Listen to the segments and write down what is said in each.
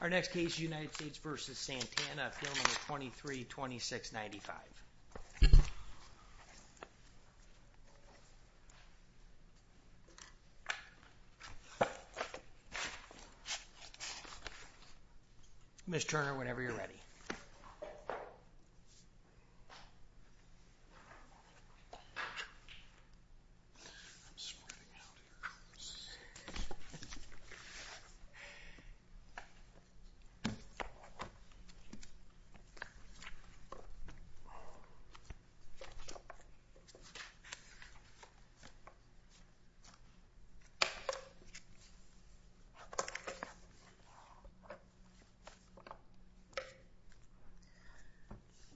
Our next case is United States v. Santana, file number 232695. Ms. Turner, whenever you're ready.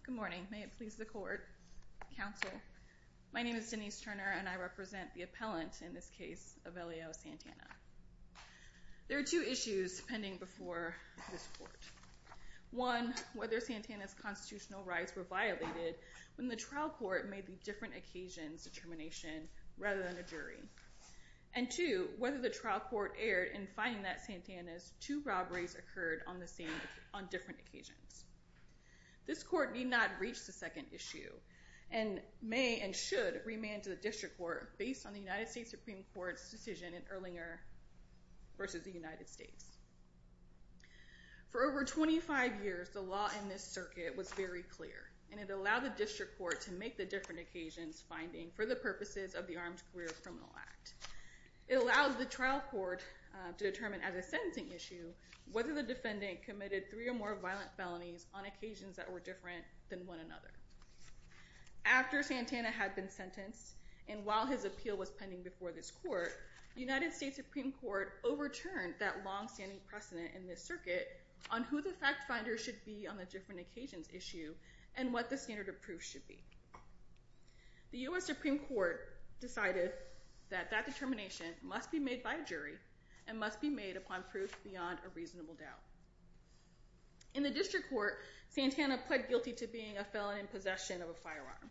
Good morning. May it please the court, counsel. My name is Denise Turner and I represent the appellant in this case, Evelio Santana. There are two issues pending before this court. One, whether Santana's constitutional rights were violated when the trial court made the different occasions determination rather than a jury. And two, whether the trial court erred in finding that Santana's two robberies occurred on different occasions. This court need not reach the second issue and may and should remand to the district court based on the United States Supreme Court's decision in Erlinger v. United States. For over 25 years, the law in this circuit was very clear and it allowed the district court to make the different occasions finding for the purposes of the Armed Career Criminal Act. It allowed the trial court to determine as a sentencing issue whether the defendant committed three or more violent felonies on occasions that were different than one another. After Santana had been sentenced and while his appeal was pending before this court, the United States Supreme Court overturned that long-standing precedent in this circuit on who the fact finder should be on the different occasions issue and what the standard of proof should be. The U.S. Supreme Court decided that that determination must be made by a jury and must be made upon proof beyond a reasonable doubt. In the district court, Santana pled guilty to being a felon in possession of a firearm.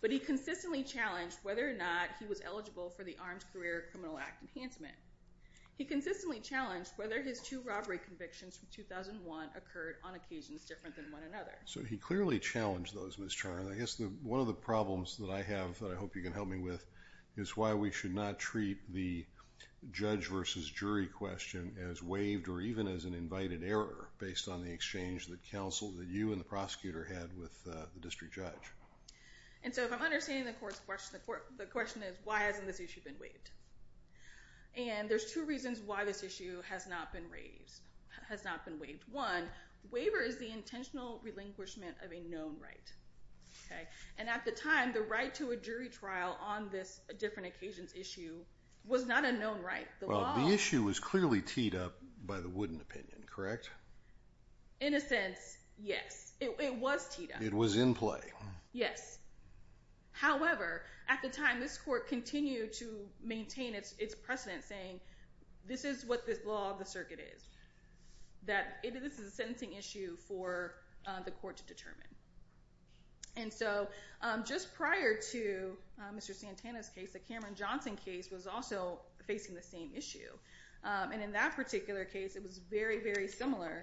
But he consistently challenged whether or not he was eligible for the Armed Career Criminal Act enhancement. He consistently challenged whether his two robbery convictions from 2001 occurred on occasions different than one another. So he clearly challenged those, Ms. Charn. I guess one of the problems that I have that I hope you can help me with is why we should not treat the judge versus jury question as waived or even as an invited error based on the exchange that counsel, that you and the prosecutor had with the district judge. And so if I'm understanding the court's question, the question is why hasn't this issue been waived? And there's two reasons why this issue has not been raised, has not been waived. One, waiver is the intentional relinquishment of a known right. And at the time, the right to a jury trial on this different occasions issue was not a known right. Well, the issue was clearly teed up by the Wooden Opinion, correct? In a sense, yes. It was teed up. It was in play. Yes. However, at the time, this court continued to maintain its precedent saying, this is what the law of the circuit is, that this is a sentencing issue for the court to determine. And so just prior to Mr. Santana's case, the Cameron Johnson case was also facing the same issue. And in that particular case, it was very, very similar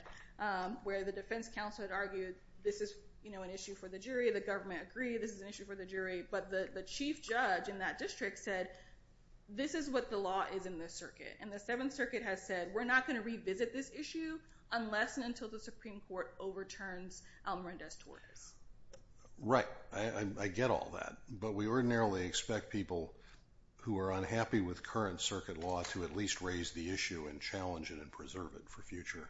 where the defense counsel had argued this is an issue for the jury. The government agreed this is an issue for the jury. But the chief judge in that district said, this is what the law is in this circuit. And the Seventh Circuit has said, we're not going to revisit this issue unless and until the Supreme Court overturns Elmer Endez Torres. Right. I get all that. But we ordinarily expect people who are unhappy with current circuit law to at least raise the issue and challenge it and preserve it for future.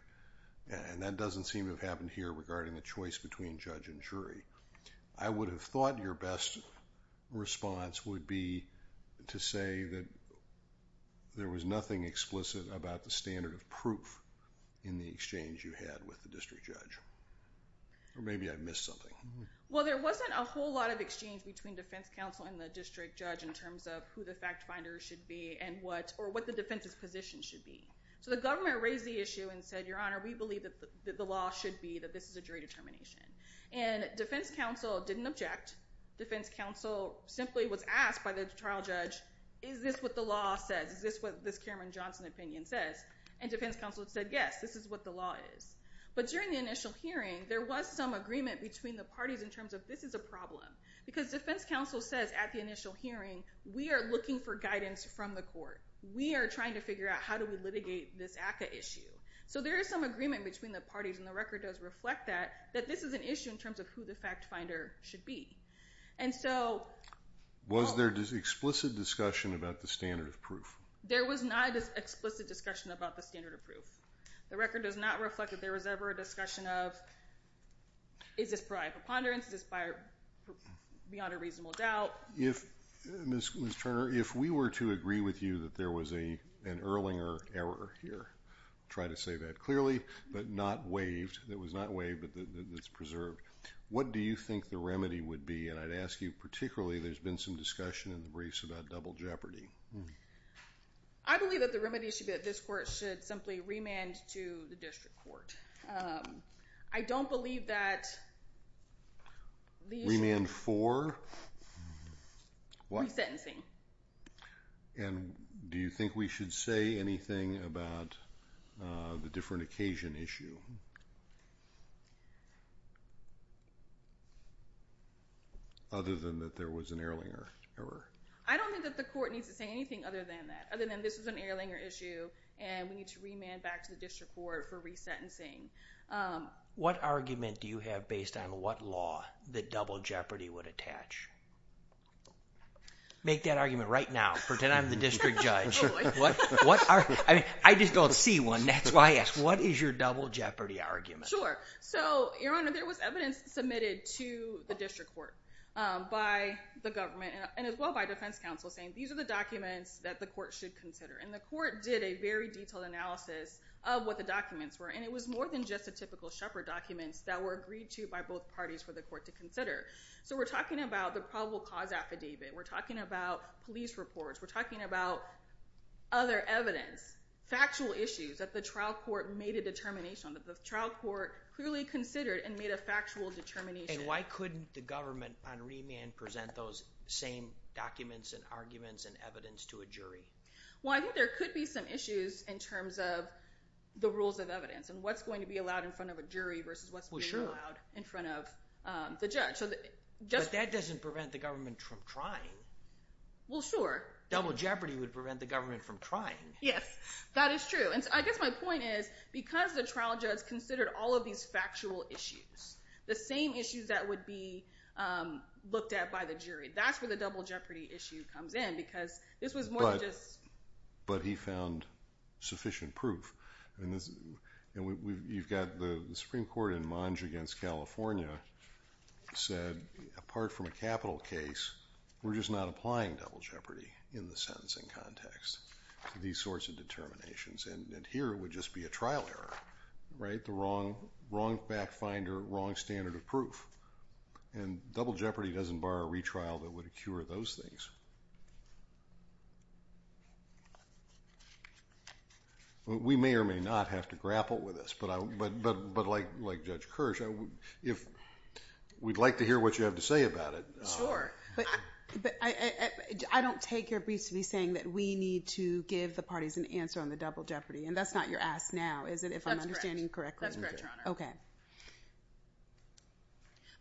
And that doesn't seem to have happened here regarding the choice between judge and jury. I would have thought your best response would be to say that there was nothing explicit about the standard of proof in the exchange you had with the district judge. Or maybe I missed something. Well, there wasn't a whole lot of exchange between defense counsel and the district judge in terms of who the fact finder should be and what, or what the defense's position should be. So the government raised the issue and said, Your Honor, we believe that the law should be that this is a jury determination. And defense counsel didn't object. Defense counsel simply was asked by the trial judge, Is this what the law says? Is this what this Cameron Johnson opinion says? And defense counsel said, Yes, this is what the law is. But during the initial hearing, there was some agreement between the parties in terms of this is a problem. Because defense counsel says at the initial hearing, we are looking for guidance from the court. We are trying to figure out how do we litigate this ACCA issue. So there is some agreement between the parties, and the record does reflect that, that this is an issue in terms of who the fact finder should be. And so... Was there explicit discussion about the standard of proof? There was not explicit discussion about the standard of proof. The record does not reflect that there was ever a discussion of, Is this prior preponderance? Is this beyond a reasonable doubt? Ms. Turner, if we were to agree with you that there was an Erlinger error here, I'll try to say that clearly, but not waived. It was not waived, but it's preserved. What do you think the remedy would be? And I'd ask you particularly, there's been some discussion in the briefs about double jeopardy. I believe that the remedy should be that this court should simply remand to the district court. I don't believe that the issue... Remand for? Resentencing. And do you think we should say anything about the different occasion issue? Other than that there was an Erlinger error. I don't think that the court needs to say anything other than that. Other than this was an Erlinger issue, and we need to remand back to the district court for resentencing. What argument do you have based on what law that double jeopardy would attach? Make that argument right now. Pretend I'm the district judge. I just don't see one. That's why I asked. What is your double jeopardy argument? Sure. So, Your Honor, there was evidence submitted to the district court by the government and as well by defense counsel saying these are the documents that the court should consider. And the court did a very detailed analysis of what the documents were, and it was more than just the typical Shepard documents that were agreed to by both parties for the court to consider. So we're talking about the probable cause affidavit. We're talking about police reports. We're talking about other evidence, factual issues that the trial court made a determination on, that the trial court clearly considered and made a factual determination. And why couldn't the government, upon remand, present those same documents and arguments and evidence to a jury? Well, I think there could be some issues in terms of the rules of evidence and what's going to be allowed in front of a jury versus what's being allowed in front of the judge. But that doesn't prevent the government from trying. Well, sure. Double jeopardy would prevent the government from trying. Yes, that is true. And I guess my point is because the trial judge considered all of these factual issues, the same issues that would be looked at by the jury, that's where the double jeopardy issue comes in because this was more than just... But he found sufficient proof. You've got the Supreme Court in Monge against California said, apart from a capital case, we're just not applying double jeopardy in the sentencing context to these sorts of determinations. And here it would just be a trial error, right? The wrong back finder, wrong standard of proof. And double jeopardy doesn't bar a retrial that would cure those things. We may or may not have to grapple with this, but like Judge Kirsch, if we'd like to hear what you have to say about it. Sure. But I don't take your briefs to be saying that we need to give the parties an answer on the double jeopardy. And that's not your ask now, is it, if I'm understanding correctly? That's correct, Your Honor. Okay.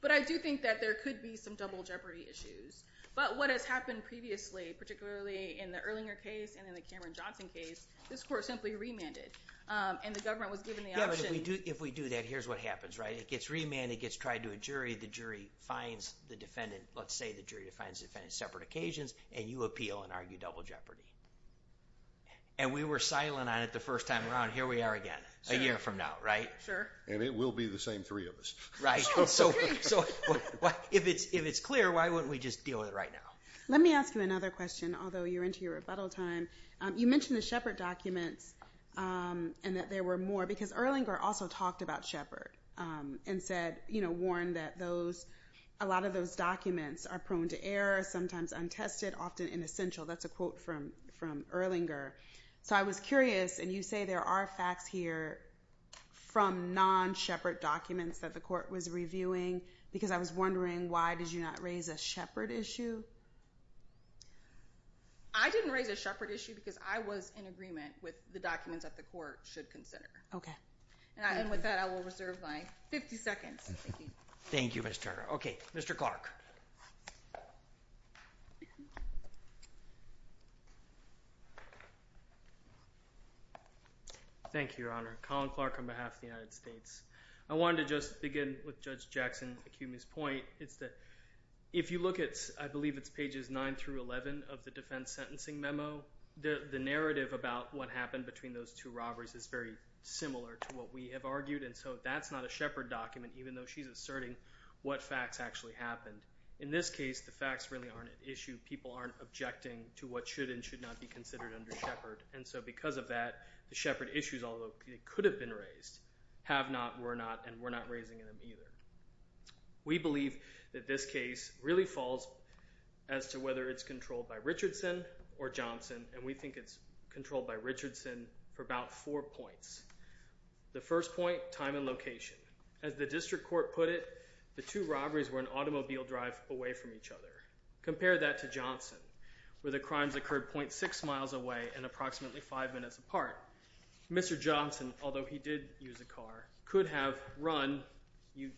But I do think that there could be some double jeopardy issues. But what has happened previously, particularly in the Erlinger case and in the Cameron Johnson case, this court simply remanded. And the government was given the option... Yeah, but if we do that, here's what happens, right? It gets remanded, it gets tried to a jury, the jury finds the defendant... Let's say the jury finds the defendant on separate occasions, and you appeal and argue double jeopardy. And we were silent on it the first time around. Here we are again a year from now, right? Sure. And it will be the same three of us. So if it's clear, why wouldn't we just deal with it right now? Let me ask you another question, although you're into your rebuttal time. You mentioned the Shepard documents and that there were more. Because Erlinger also talked about Shepard and warned that a lot of those documents are prone to error, sometimes untested, often inessential. That's a quote from Erlinger. So I was curious, and you say there are facts here from non-Shepard documents that the court was reviewing, because I was wondering why did you not raise a Shepard issue? I didn't raise a Shepard issue because I was in agreement with the documents that the court should consider. Okay. And with that, I will reserve my 50 seconds. Thank you, Mr. Turner. Okay, Mr. Clark. Thank you, Your Honor. Colin Clark on behalf of the United States. I wanted to just begin with Judge Jackson-Akumi's point. It's that if you look at, I believe it's pages 9 through 11 of the defense sentencing memo, the narrative about what happened between those two robberies is very similar to what we have argued. And so that's not a Shepard document, even though she's asserting what facts actually happened. In this case, the facts really aren't at issue. People aren't objecting to what should and should not be considered under Shepard. And so because of that, the Shepard issues, although they could have been raised, have not, were not, and we're not raising them either. We believe that this case really falls as to whether it's controlled by Richardson or Johnson, and we think it's controlled by Richardson for about four points. The first point, time and location. As the district court put it, the two robberies were an automobile drive away from each other. Compare that to Johnson, where the crimes occurred .6 miles away and approximately five minutes apart. Mr. Johnson, although he did use a car, could have run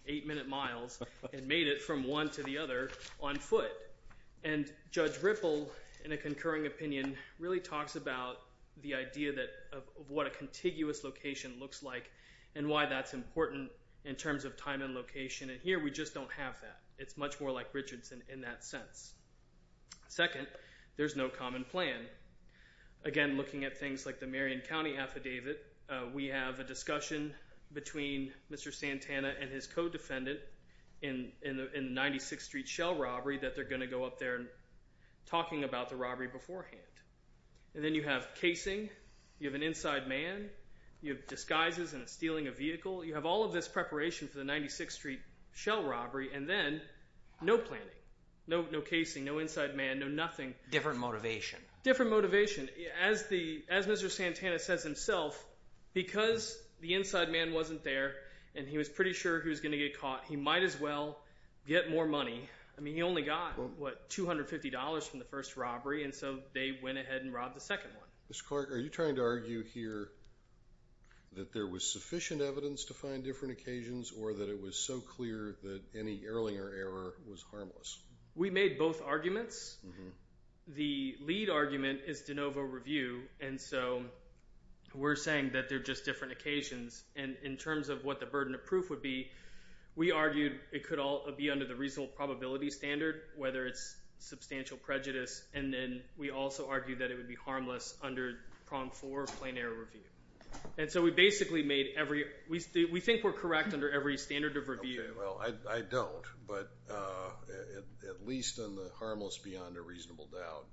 eight-minute miles and made it from one to the other on foot. And Judge Ripple, in a concurring opinion, really talks about the idea of what a contiguous location looks like and why that's important in terms of time and location, and here we just don't have that. It's much more like Richardson in that sense. Second, there's no common plan. Again, looking at things like the Marion County Affidavit, we have a discussion between Mr. Santana and his co-defendant in the 96th Street Shell robbery that they're going to go up there talking about the robbery beforehand. And then you have casing, you have an inside man, you have disguises and stealing a vehicle. You have all of this preparation for the 96th Street Shell robbery, and then no planning, no casing, no inside man, no nothing. Different motivation. Different motivation. As Mr. Santana says himself, because the inside man wasn't there and he was pretty sure he was going to get caught, he might as well get more money. I mean, he only got, what, $250 from the first robbery, and so they went ahead and robbed the second one. Mr. Clark, are you trying to argue here that there was sufficient evidence to find different occasions or that it was so clear that any Erlinger error was harmless? We made both arguments. The lead argument is de novo review, and so we're saying that they're just different occasions. And in terms of what the burden of proof would be, we argued it could all be under the reasonable probability standard, whether it's substantial prejudice, and then we also argued that it would be harmless under prong four, plain error review. And so we basically made every, we think we're correct under every standard of review. Okay, well, I don't, but at least on the harmless beyond a reasonable doubt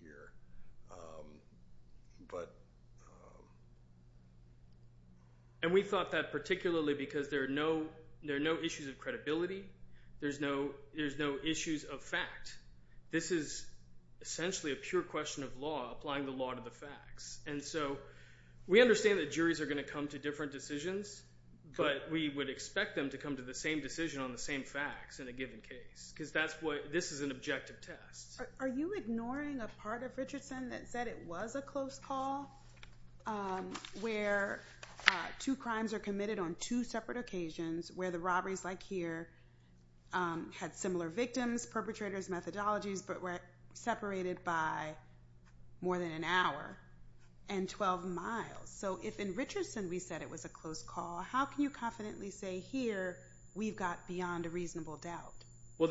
here. And we thought that particularly because there are no issues of credibility. There's no issues of fact. This is essentially a pure question of law applying the law to the facts. And so we understand that juries are going to come to different decisions, but we would expect them to come to the same decision on the same facts in a given case because that's what, this is an objective test. Are you ignoring a part of Richardson that said it was a close call where two crimes are committed on two separate occasions, where the robberies like here had similar victims, perpetrators, methodologies, but were separated by more than an hour and 12 miles? So if in Richardson we said it was a close call, how can you confidently say here we've got beyond a reasonable doubt? Well,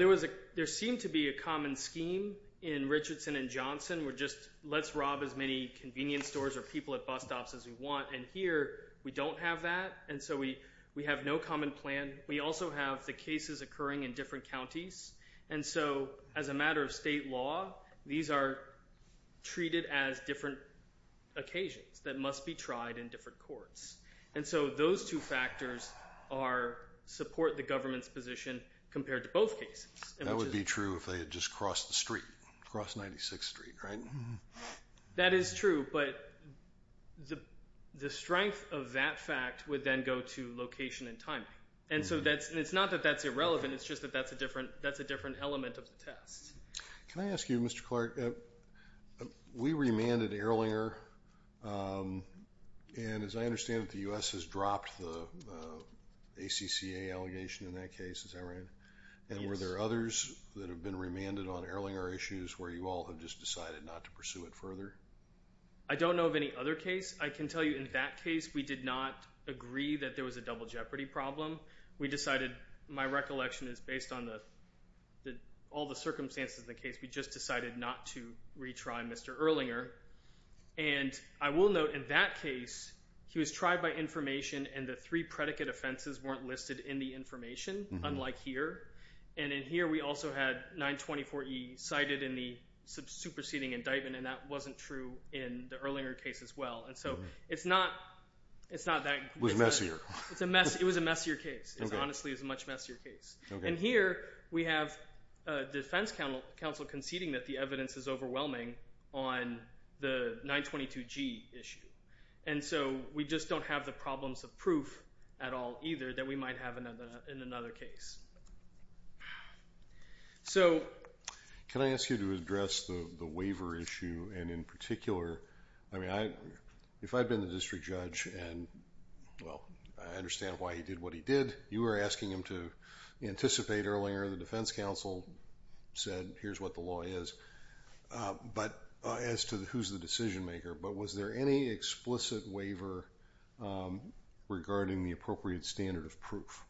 there seemed to be a common scheme in Richardson and Johnson where just let's rob as many convenience stores or people at bus stops as we want. And here we don't have that, and so we have no common plan. We also have the cases occurring in different counties. And so as a matter of state law, these are treated as different occasions that must be tried in different courts. And so those two factors support the government's position compared to both cases. That would be true if they had just crossed the street, crossed 96th Street, right? That is true, but the strength of that fact would then go to location and timing. And so it's not that that's irrelevant. It's just that that's a different element of the test. Can I ask you, Mr. Clark, we remanded Erlinger. And as I understand it, the U.S. has dropped the ACCA allegation in that case, is that right? And were there others that have been remanded on Erlinger issues where you all have just decided not to pursue it further? I don't know of any other case. I can tell you in that case we did not agree that there was a double jeopardy problem. We decided, my recollection is based on all the circumstances of the case, we just decided not to retry Mr. Erlinger. And I will note in that case he was tried by information and the three predicate offenses weren't listed in the information, unlike here. And in here we also had 924E cited in the superseding indictment, and that wasn't true in the Erlinger case as well. And so it's not that. It was messier. It was a messier case. It honestly is a much messier case. And here we have a defense counsel conceding that the evidence is overwhelming on the 922G issue. And so we just don't have the problems of proof at all either that we might have in another case. Can I ask you to address the waiver issue? And in particular, I mean, if I had been the district judge and, well, I understand why he did what he did. You were asking him to anticipate, Erlinger, the defense counsel said, here's what the law is. But as to who's the decision maker, but was there any explicit waiver regarding the appropriate standard of proof?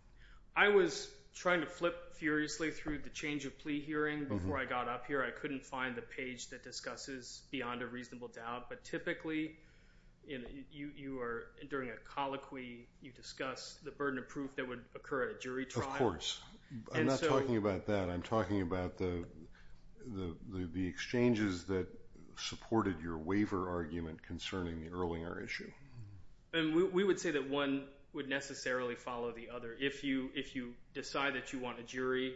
I was trying to flip furiously through the change of plea hearing before I got up here. I couldn't find the page that discusses beyond a reasonable doubt. But typically you are, during a colloquy, you discuss the burden of proof that would occur at a jury trial. Of course. I'm not talking about that. I'm talking about the exchanges that supported your waiver argument concerning the Erlinger issue. And we would say that one would necessarily follow the other. If you decide that you want a jury.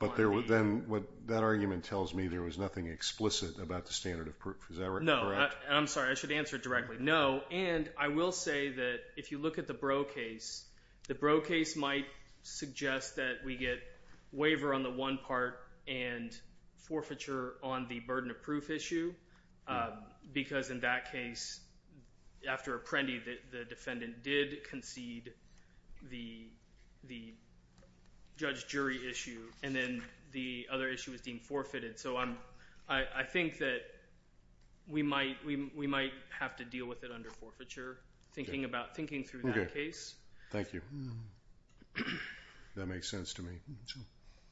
But then that argument tells me there was nothing explicit about the standard of proof. Is that correct? I'm sorry. I should answer it directly. No. And I will say that if you look at the Brough case, the Brough case might suggest that we get waiver on the one part and forfeiture on the burden of proof issue. Because in that case, after Apprendi, the defendant did concede the judge jury issue. And then the other issue was deemed forfeited. So I think that we might have to deal with it under forfeiture, thinking through that case. Thank you. That makes sense to me.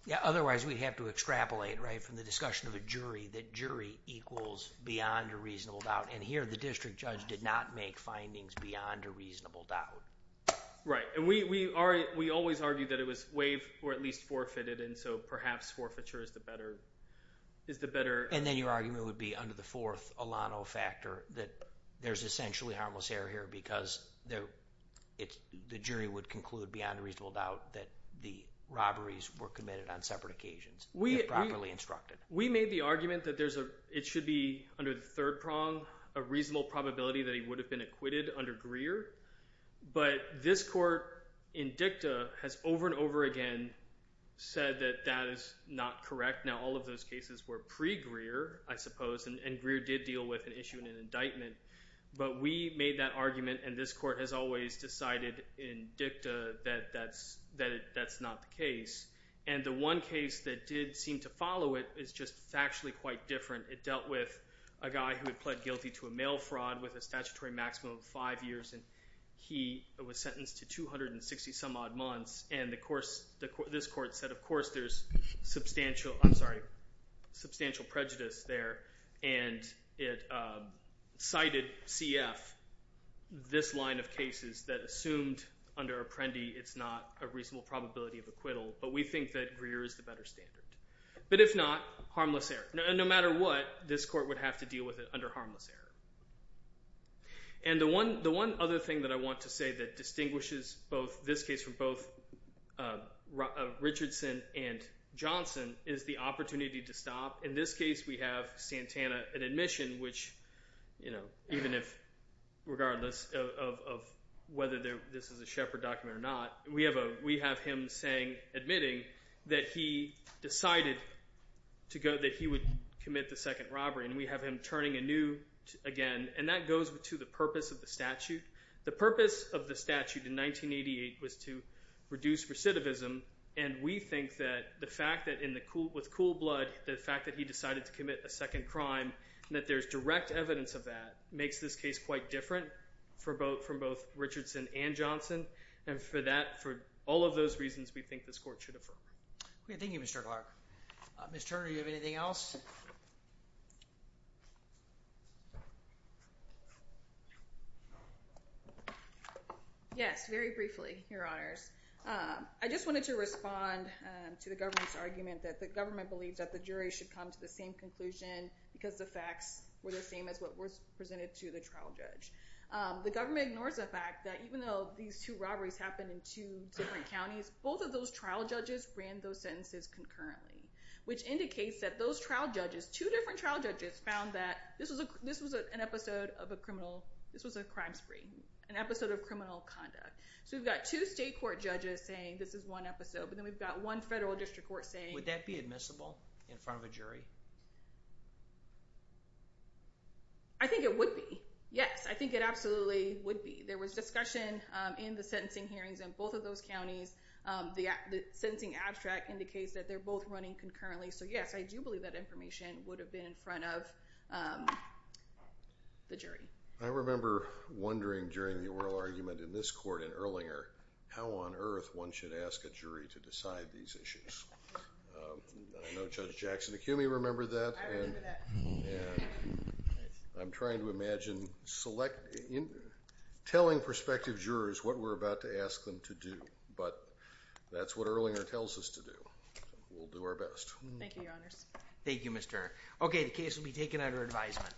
Yeah. Otherwise we'd have to extrapolate, right, from the discussion of a jury, that jury equals beyond a reasonable doubt. And here the district judge did not make findings beyond a reasonable doubt. Right. And we always argue that it was waived or at least forfeited. And so perhaps forfeiture is the better. And then your argument would be under the fourth Alano factor that there's essentially harmless error here because the jury would conclude beyond a reasonable doubt that the robberies were committed on separate occasions, if properly instructed. We made the argument that it should be under the third prong, a reasonable probability that he would have been acquitted under Greer. But this court in dicta has over and over again said that that is not correct. Now, all of those cases were pre-Greer, I suppose, and Greer did deal with an issue in an indictment. But we made that argument, and this court has always decided in dicta that that's not the case. And the one case that did seem to follow it is just factually quite different. It dealt with a guy who had pled guilty to a mail fraud with a statutory maximum of five years. And he was sentenced to 260 some odd months. And this court said, of course, there's substantial prejudice there. And it cited CF, this line of cases that assumed under Apprendi it's not a reasonable probability of acquittal. But we think that Greer is the better standard. But if not, harmless error. No matter what, this court would have to deal with it under harmless error. And the one other thing that I want to say that distinguishes this case from both Richardson and Johnson is the opportunity to stop. In this case, we have Santana at admission, which even if regardless of whether this is a Shepard document or not, we have him admitting that he decided that he would commit the second robbery. And we have him turning anew again. And that goes to the purpose of the statute. The purpose of the statute in 1988 was to reduce recidivism. And we think that the fact that with cool blood, the fact that he decided to commit a second crime, that there's direct evidence of that makes this case quite different from both Richardson and Johnson. And for all of those reasons, we think this court should affirm. Thank you, Mr. Clark. Ms. Turner, do you have anything else? Yes, very briefly, Your Honors. I just wanted to respond to the government's argument that the government believes that the jury should come to the same conclusion because the facts were the same as what was presented to the trial judge. The government ignores the fact that even though these two robberies happened in two different counties, both of those trial judges ran those sentences concurrently, which indicates that those trial judges, two different trial judges, found that this was an episode of a crime spree, an episode of criminal conduct. So we've got two state court judges saying this is one episode, but then we've got one federal district court saying— Would that be admissible in front of a jury? I think it would be, yes. I think it absolutely would be. There was discussion in the sentencing hearings in both of those counties. The sentencing abstract indicates that they're both running concurrently. So, yes, I do believe that information would have been in front of the jury. I remember wondering during the oral argument in this court in Erlinger how on earth one should ask a jury to decide these issues. I know Judge Jackson Acumi remembered that. I remember that. I'm trying to imagine telling prospective jurors what we're about to ask them to do, but that's what Erlinger tells us to do. We'll do our best. Thank you, Your Honors. Thank you, Mr. Turner. Okay, the case will be taken under advisement.